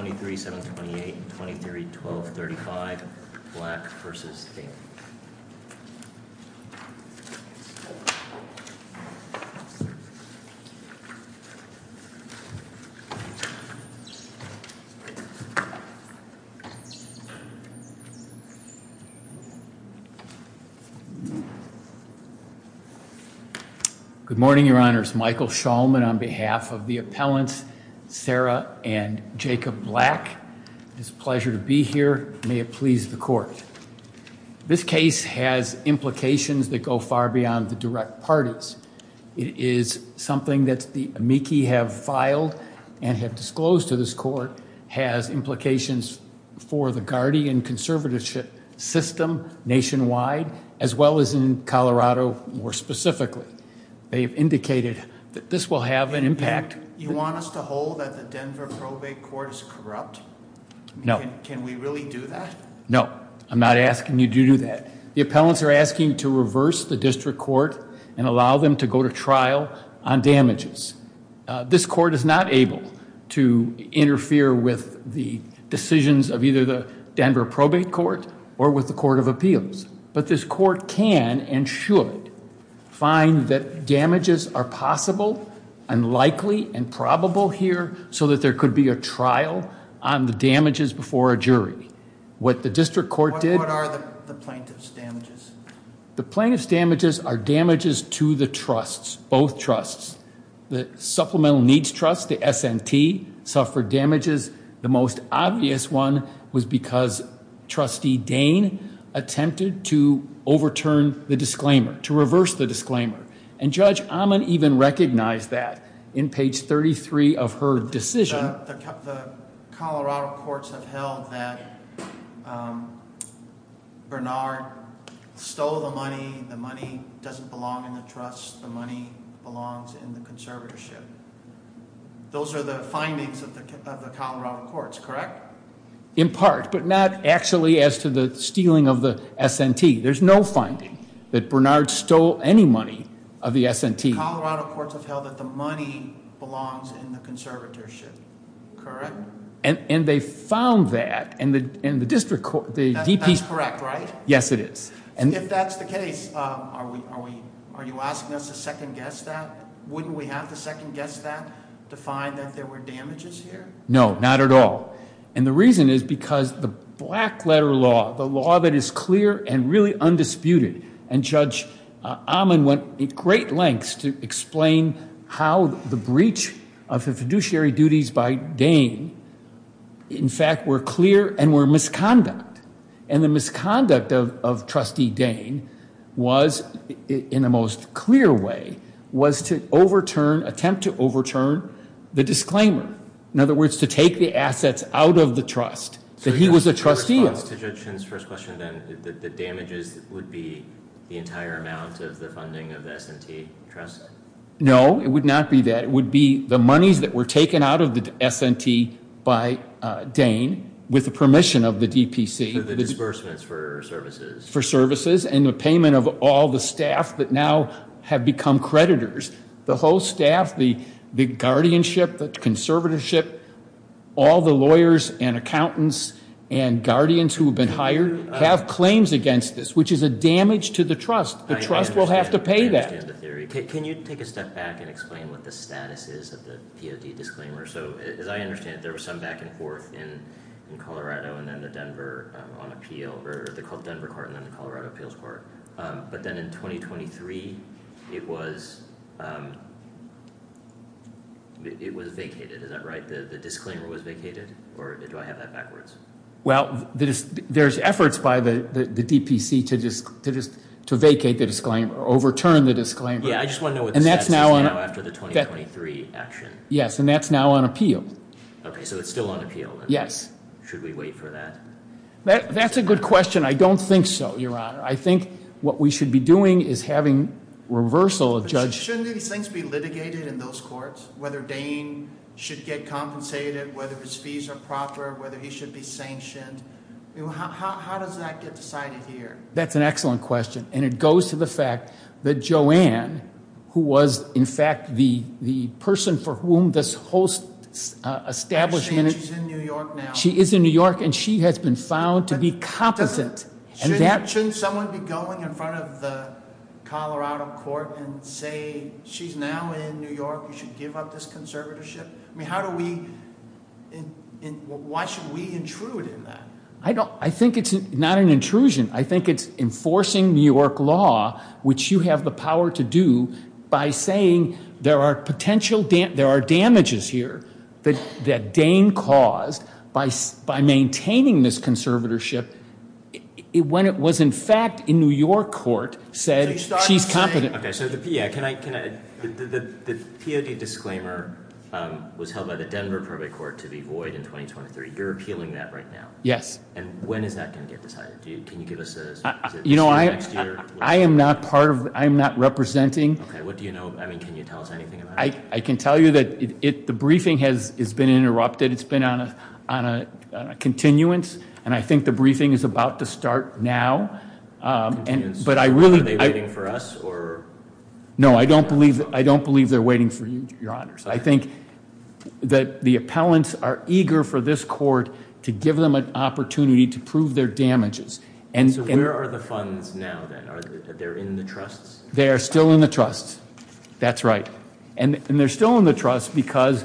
23, 7, 28, 23, 12, 35, Black v. Dain. Good morning, Your Honors. Michael Shulman on behalf of the appellants, Sarah and Jacob Black, it's a pleasure to be here. May it please the court. This case has implications that go far beyond the direct parties. It is something that the amici have filed and have disclosed to this court has implications for the guardian conservatorship system nationwide as well as in Colorado more specifically. They've indicated that this will have an impact. You want us to hold that the Denver probate court is corrupt? No. Can we really do that? No, I'm not asking you to do that. The appellants are asking to reverse the district court and allow them to go to trial on damages. This court is not able to interfere with the decisions of either the Denver probate court or with the court of appeals, but this court can and should find that damages are possible and likely and probable here so that there could be a trial on the damages before a jury. What the district court did... What are the plaintiff's damages? The plaintiff's damages are damages to the trusts, both trusts. The Supplemental Needs Trust, the SNT, suffered damages. The most obvious one was because Trustee Dane attempted to overturn the disclaimer, to reverse the disclaimer, and Judge Amman even recognized that in page 33 of her decision. The Colorado courts have held that Bernard stole the money. The money doesn't belong in the trust. The money belongs in the conservatorship. Those are the findings of the Colorado courts, correct? In part, but not actually as to the stealing of the SNT. There's no finding that Bernard stole any money of the SNT. The Colorado courts have held that the money belongs in the conservatorship, correct? And they found that, and the district court... That's correct, right? Yes, it is. And if that's the case, are you asking us to second guess that? Wouldn't we have to second guess that to find that there were damages here? No, not at all. And the reason is because the black letter law, the law that is clear and really undisputed, and Judge Amman went at great lengths to explain how the breach of the fiduciary duties by Dane, in fact, were clear and were misconduct. And the misconduct of trustee Dane was, in the most clear way, was to overturn, attempt to overturn the disclaimer. In other words, to take the assets out of the trust, that he was a trustee. So in response to Judge Chin's first question then, the damages would be the entire amount of the funding of the SNT trust? No, it would not be that. It would be the monies that were taken out of the SNT by Dane, with the disbursements for services. For services and the payment of all the staff that now have become creditors. The whole staff, the guardianship, the conservatorship, all the lawyers and accountants and guardians who have been hired have claims against this, which is a damage to the trust. The trust will have to pay that. I understand the theory. Can you take a step back and explain what the status is of the POD disclaimer? So as I understand it, there was some back and forth in Colorado and then the Denver on appeal, or they're called Denver Court and then the Colorado Appeals Court. But then in 2023, it was vacated. Is that right? The disclaimer was vacated? Or do I have that backwards? Well, there's efforts by the DPC to just to vacate the disclaimer, overturn the disclaimer. Yeah, I just want to know what the status is now after the 2023 action. Yes, and that's now on appeal. Okay, so it's still on appeal. Yes. Should we wait for that? That's a good question. I don't think so, Your Honor. I think what we should be doing is having reversal of judge. Shouldn't these things be litigated in those courts? Whether Dane should get compensated, whether his fees are proper, whether he should be sanctioned? How does that get decided here? That's an excellent question, and it goes to the fact that Joanne, who was, in fact, the person for whom this whole establishment is in New York now, she is in New York and she has been found to be competent. Shouldn't someone be going in front of the Colorado Court and say, she's now in New York, you should give up this conservatorship? I mean, why should we intrude in that? I think it's not an intrusion. I think it's enforcing New York law, which you have the power to do, by saying there are damages here that Dane caused by maintaining this conservatorship when it was, in fact, in New York court, said she's competent. Okay, so the POD disclaimer was held by the Denver Probate Court to be void in 2023. You're appealing that right now? Yes. And when is that going to get decided? Can you give us a... You know, I am not part of, I'm not representing... Okay, what do you know? I mean, can you tell us anything about it? I can tell you that the briefing has been interrupted. It's been on a continuance, and I think the briefing is about to start now, but I really... Are they waiting for us, or... No, I don't believe they're waiting for you, Your Honors. I think that the appellants are eager for this court to give them an opportunity to prove their damages. And so, where are the funds now, then? Are they in the trusts? They are still in the trusts. That's right. And they're still in the trusts because,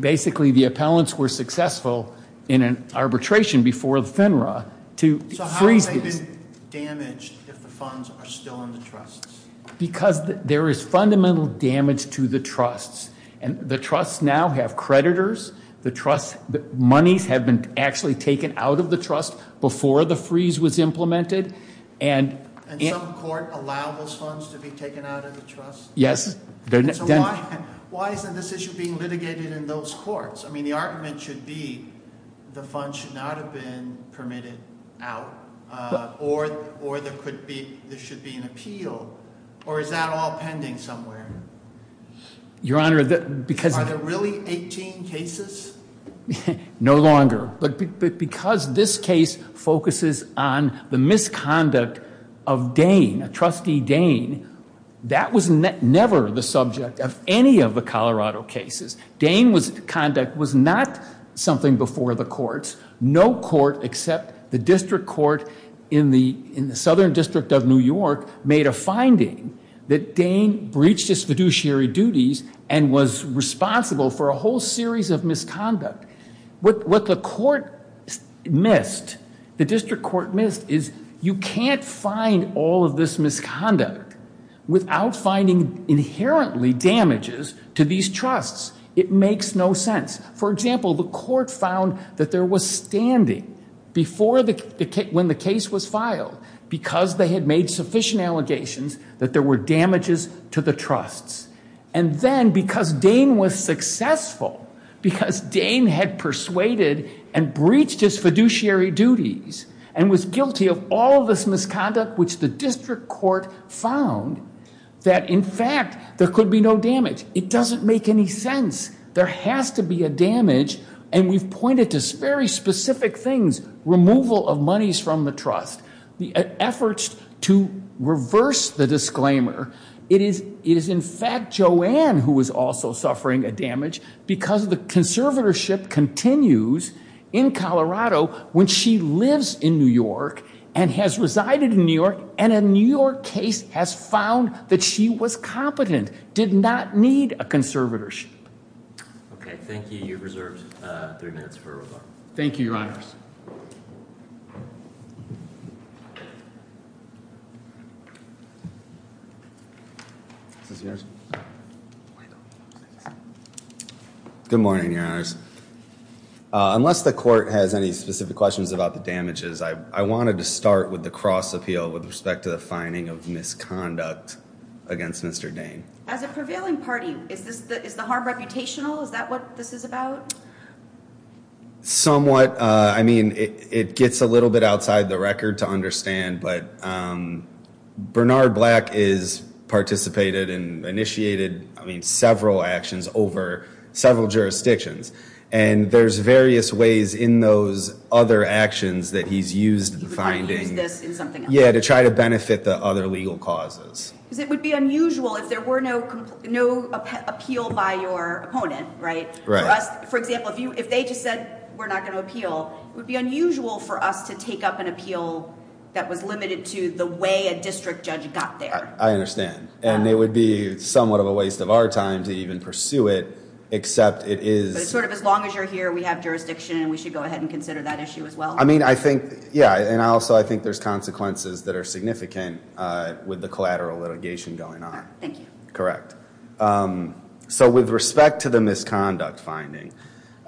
basically, the appellants were successful in an arbitration before the FINRA to... So how have they been damaged if the funds are still in the trusts? Because there is fundamental damage to the trusts, and the trusts now have creditors. The trusts... Monies have been actually taken out of the trust before the freeze was implemented, and... And some court allowed those funds to be taken out of the trust? Yes. Why isn't this issue being litigated in those courts? I mean, the argument should be the funds should not have been permitted out, or there should be an appeal, or is that all pending somewhere? Your Honor, because... Are there really 18 cases? No longer. But because this case focuses on the misconduct of Dane, a trustee Dane, that was never the subject of any of the Colorado cases. Dane's conduct was not something before the courts. No court except the district court in the Southern District of New York made a finding that Dane breached his fiduciary duties and was responsible for a whole series of misconduct. What the court missed, the district court missed, is you can't find all of this misconduct without finding inherently damages to these trusts. It makes no sense. For example, the court found that there was standing before the... when the case was filed, because they had made sufficient allegations that there were damages to the trusts. And then, because Dane was successful, because Dane had persuaded and breached his fiduciary duties and was guilty of all this misconduct, which the district court found that, in fact, there could be no damage. It doesn't make any sense. There has to be a damage, and we've pointed to very specific things. Removal of monies from the trust. The efforts to reverse the disclaimer. It is, in fact, Joanne who was also suffering a damage because the conservatorship continues in Colorado when she lives in New York and has resided in New York, and a New York case has found that she was competent, did not need a conservatorship. Okay, thank you. You're reserved three minutes for rebuttal. Thank you, Your Honors. Good morning, Your Honors. Unless the court has any specific questions about the damages, I wanted to start with the cross appeal with respect to the finding of misconduct against Mr. Dane. As a prevailing party, is the harm reputational? Is that what this is about? Somewhat. I mean, it gets a little bit outside the record to understand, but Bernard Black has participated and initiated, I mean, several actions over several jurisdictions, and there's various ways in those other actions that he's used the finding. He's used this in something else. Yeah, to try to benefit the other legal causes. Because it would be unusual if there were no appeal by your opponent, right? Right. For example, if they just said, we're not going to appeal, it would be unusual for us to take up an appeal that was limited to the way a district judge got there. I understand. And it would be somewhat of a waste of our time to even pursue it, except it is- Sort of as long as you're here, we have jurisdiction, and we should go ahead and consider that issue as well. I mean, I think, yeah. And also, I think there's consequences that are significant with the collateral litigation going on. Thank you. Correct. So with respect to the misconduct finding,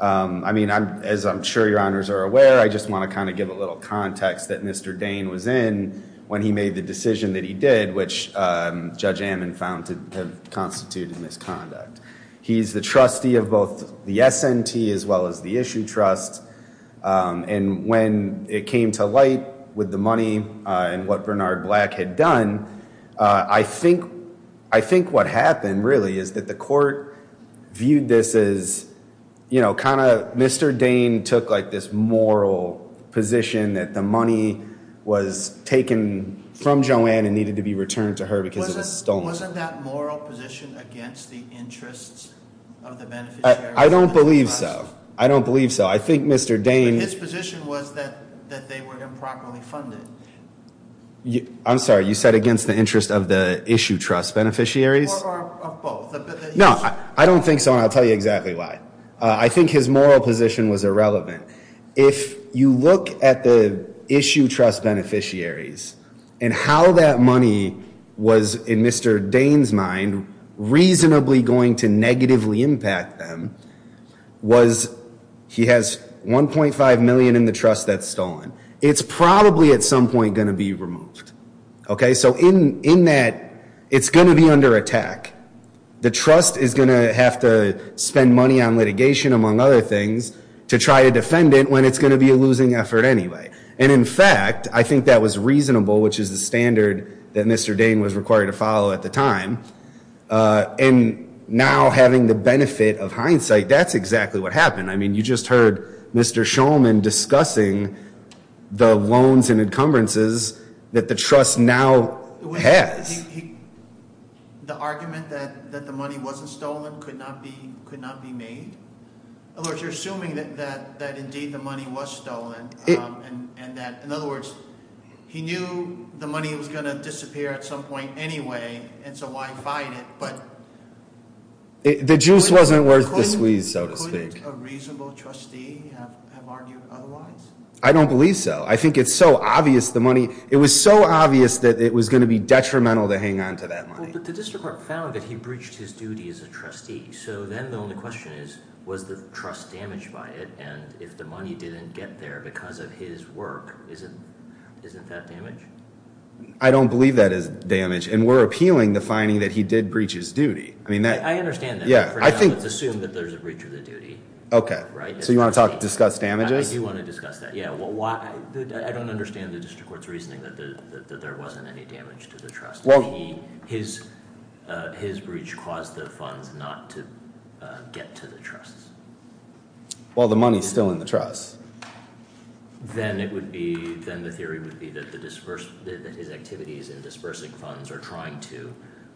I mean, as I'm sure your honors are aware, I just want to kind of give a little context that Mr. Dane was in when he made the decision that he did, which Judge Ammon found to have constituted misconduct. He's the trustee of both the S&T as well as the Issue Trust. And when it came to light with the money and what Bernard Black had done, I think what happened really is that the court viewed this as, you know, kind of Mr. Dane took like this moral position that the money was taken from Joanne and needed to be returned to her because it was stolen. Wasn't that moral position against the interests of the beneficiary? I don't believe so. I don't believe so. I think Mr. Dane- His position was that they were improperly funded. I'm sorry. You said against the interest of the Issue Trust beneficiaries? Or of both. No, I don't think so. And I'll tell you exactly why. I think his moral position was irrelevant. If you look at the Issue Trust beneficiaries and how that money was, in Mr. Dane's mind, reasonably going to negatively impact them, was he has 1.5 million in the trust that's stolen. It's probably at some point going to be removed, okay? So in that, it's going to be under attack. The trust is going to have to spend money on litigation, among other things, to try to defend it when it's going to be a losing effort anyway. And in fact, I think that was reasonable, which is the standard that Mr. Dane was required to follow at the time. And now having the benefit of hindsight, that's exactly what happened. You just heard Mr. Shulman discussing the loans and encumbrances that the trust now has. The argument that the money wasn't stolen could not be made? In other words, you're assuming that indeed the money was stolen. In other words, he knew the money was going to disappear at some point anyway, and so why fight it? The juice wasn't worth the squeeze, so to speak. Couldn't a reasonable trustee have argued otherwise? I don't believe so. I think it's so obvious the money, it was so obvious that it was going to be detrimental to hang on to that money. But the district court found that he breached his duty as a trustee. So then the only question is, was the trust damaged by it? And if the money didn't get there because of his work, isn't that damage? I don't believe that is damage. And we're appealing the finding that he did breach his duty. I mean that- I understand that. Assume that there's a breach of the duty. Okay, so you want to discuss damages? I do want to discuss that, yeah. I don't understand the district court's reasoning that there wasn't any damage to the trust. His breach caused the funds not to get to the trusts. Well, the money's still in the trust. Then the theory would be that his activities in dispersing funds or trying to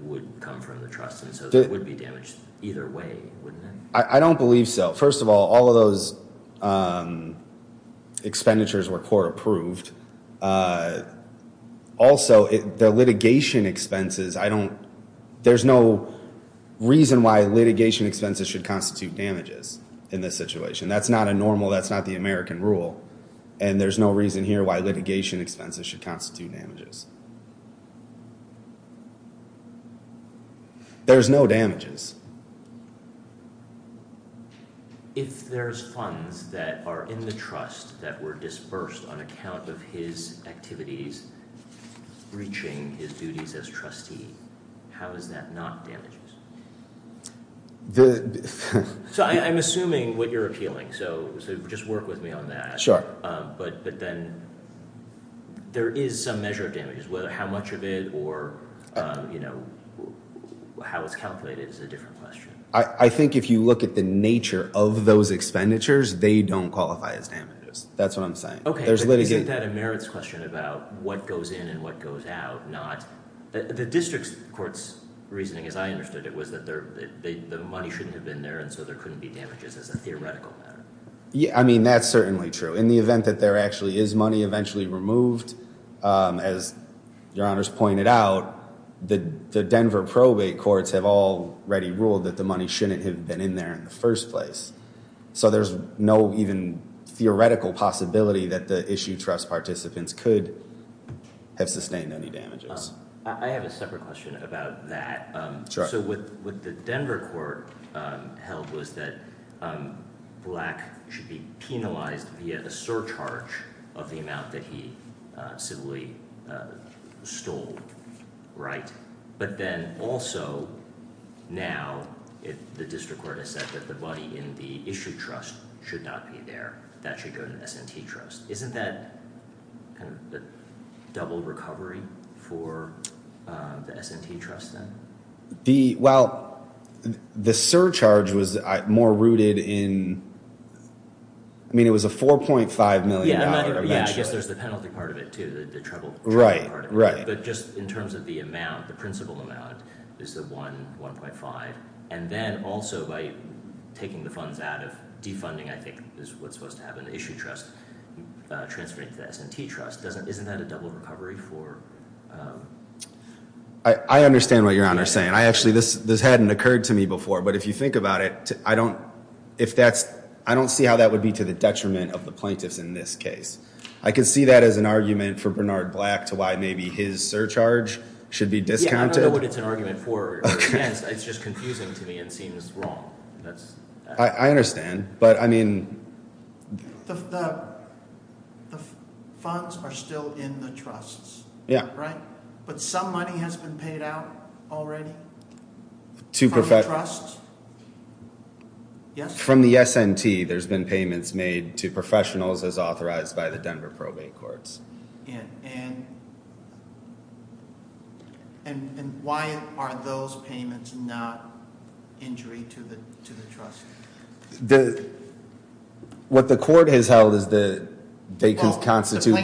would come from the trust and so that would be damaged either way, wouldn't it? I don't believe so. First of all, all of those expenditures were court approved. Also, the litigation expenses, I don't- there's no reason why litigation expenses should constitute damages in this situation. That's not a normal, that's not the American rule. And there's no reason here why litigation expenses should constitute damages. There's no damages. If there's funds that are in the trust that were disbursed on account of his activities breaching his duties as trustee, how is that not damages? So I'm assuming what you're appealing, so just work with me on that. But then there is some measure of damages, whether how much of it or you know, how it's calculated is a different question. I think if you look at the nature of those expenditures, they don't qualify as damages. That's what I'm saying. Okay, but isn't that a merits question about what goes in and what goes out, not- the district court's reasoning, as I understood it, was that the money shouldn't have been there and so there couldn't be damages as a theoretical matter. I mean, that's certainly true. In the event that there actually is money eventually removed, as your honors pointed out, the Denver probate courts have already ruled that the money shouldn't have been in there in the first place. So there's no even theoretical possibility that the issue trust participants could have sustained any damages. I have a separate question about that. So what the Denver court held was that Black should be penalized via the surcharge of the amount that he civilly stole, right? But then also now the district court has said that the money in the issue trust should not be there. That should go to the S&T trust. Isn't that kind of the double recovery for the S&T trust then? Well, the surcharge was more rooted in- I mean, it was a $4.5 million. Yeah, I guess there's the penalty part of it too, the trouble part of it. Right, right. But just in terms of the amount, the principal amount, is the $1.5 million. And then also by taking the funds out of defunding, I think, is what's supposed to happen, the issue trust transferring to the S&T trust. Isn't that a double recovery for- I understand what Your Honor is saying. I actually- this hadn't occurred to me before. But if you think about it, I don't see how that would be to the detriment of the plaintiffs in this case. I can see that as an argument for Bernard Black to why maybe his surcharge should be discounted. I don't know what it's an argument for. It's just confusing to me. It seems wrong. I understand. But I mean- The funds are still in the trusts, right? But some money has been paid out already from the trusts? Yes? From the S&T, there's been payments made to professionals as authorized by the Denver Probate Courts. And why are those payments not injury to the trust? What the court has held is that they can constitute-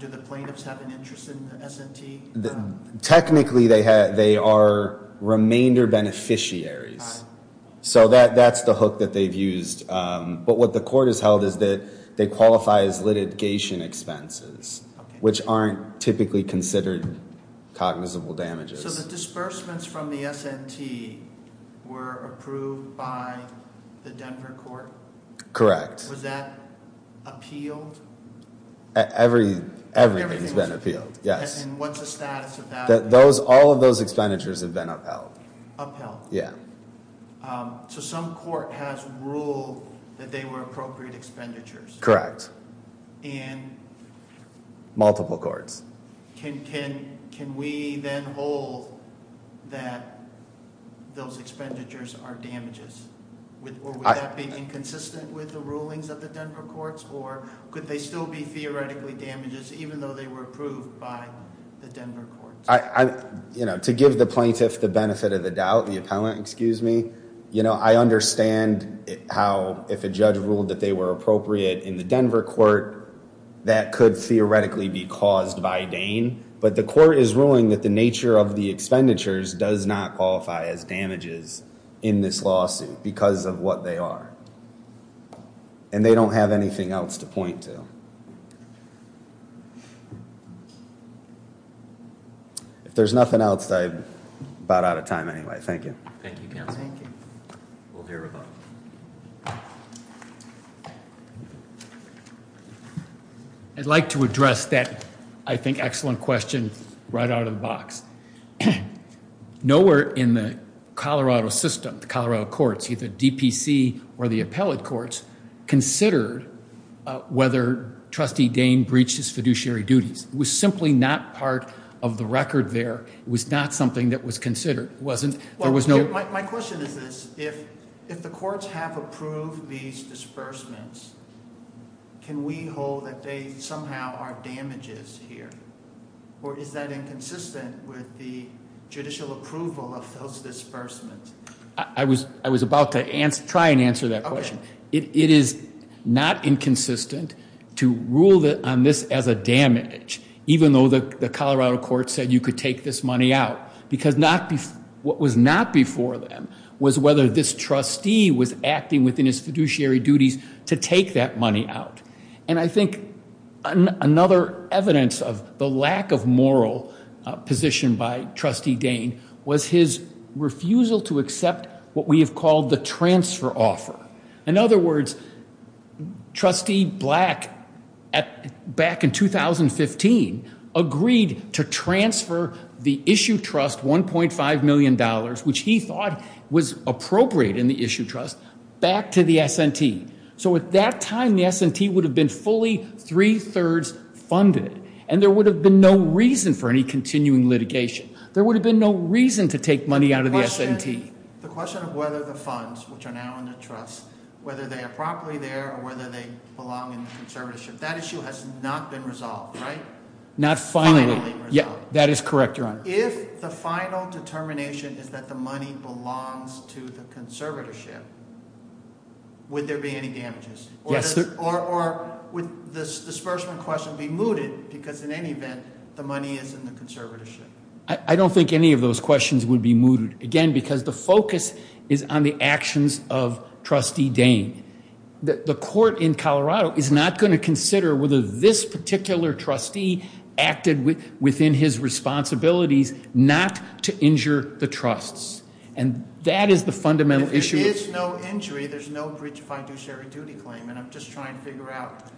Do the plaintiffs have an interest in the S&T? Technically, they are remainder beneficiaries. So that's the hook that they've used. But what the court has held is that they qualify as litigation expenses, which aren't typically considered cognizable damages. So the disbursements from the S&T were approved by the Denver Court? Correct. Was that appealed? Everything's been appealed, yes. And what's the status of that? All of those expenditures have been upheld. Yeah. So some court has ruled that they were appropriate expenditures? Correct. And- Multiple courts. Can we then hold that those expenditures are damages? Or would that be inconsistent with the rulings of the Denver Courts? Or could they still be theoretically damages, even though they were approved by the Denver Courts? To give the plaintiff the benefit of the doubt, the appellant, excuse me, I understand how if a judge ruled that they were appropriate in the Denver Court, that could theoretically be caused by Dane. But the court is ruling that the nature of the expenditures does not qualify as damages in this lawsuit because of what they are. And they don't have anything else to point to. If there's nothing else, I'm about out of time anyway. Thank you. Thank you, counsel. Thank you. We'll hear a vote. I'd like to address that, I think, excellent question right out of the box. Nowhere in the Colorado system, the Colorado courts, either DPC or the appellate courts, considered whether trustee Dane breached his fiduciary duties. It was simply not part of the record there. It was not something that was considered. My question is this, if the courts have approved these disbursements, can we hold that they somehow are damages here? Or is that inconsistent with the judicial approval of those disbursements? I was about to try and answer that question. It is not inconsistent to rule on this as a damage, even though the Colorado court said you could take this money out. Because what was not before them was whether this trustee was acting within his fiduciary duties to take that money out. And I think another evidence of the lack of moral position by trustee Dane was his refusal to accept what we have called the transfer offer. In other words, trustee Black, back in 2015, agreed to transfer the issue trust $1.5 million, which he thought was appropriate in the issue trust, back to the S&T. So at that time, the S&T would have been fully three-thirds funded. And there would have been no reason for any continuing litigation. There would have been no reason to take money out of the S&T. The question of whether the funds, which are now in the trust, whether they are properly there, or whether they belong in the conservatorship, that issue has not been resolved, right? Not finally. That is correct, Your Honor. If the final determination is that the money belongs to the conservatorship, would there be any damages? Yes. Or would this disbursement question be mooted? Because in any event, the money is in the conservatorship. I don't think any of those questions would be mooted. Again, because the focus is on the actions of Trustee Dane. The court in Colorado is not going to consider whether this particular trustee acted within his responsibilities not to injure the trusts. And that is the fundamental issue. If there is no injury, there's no breach of fiduciary duty claim. And I'm just trying to figure out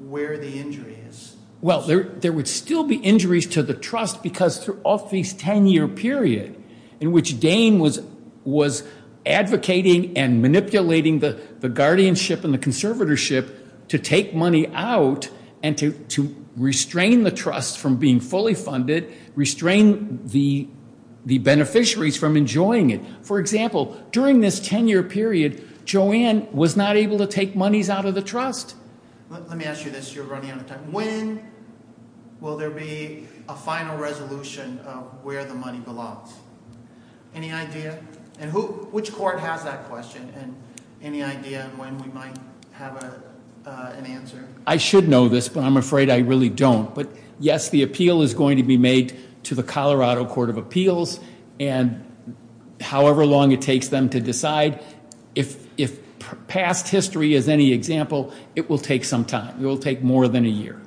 where the injury is. Well, there would still be injuries to the trust because throughout this 10-year period in which Dane was advocating and manipulating the guardianship and the conservatorship to take money out and to restrain the trust from being fully funded, restrain the beneficiaries from enjoying it. For example, during this 10-year period, Joanne was not able to take monies out of the trust. Let me ask you this. You're running out of time. When will there be a final resolution of where the money belongs? Any idea? And which court has that question? And any idea when we might have an answer? I should know this, but I'm afraid I really don't. But yes, the appeal is going to be made to the Colorado Court of Appeals. And however long it takes them to decide, if past history is any example, it will take some time. It will take more than a year.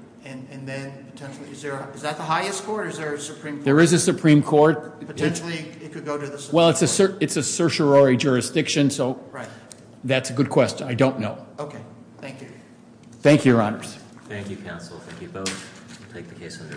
And then potentially, is that the highest court or is there a Supreme Court? There is a Supreme Court. Potentially, it could go to the Supreme Court. Well, it's a certiorari jurisdiction, so that's a good question. I don't know. Okay. Thank you. Thank you, Your Honors. Thank you, counsel. Thank you both. We'll take the case under advisement.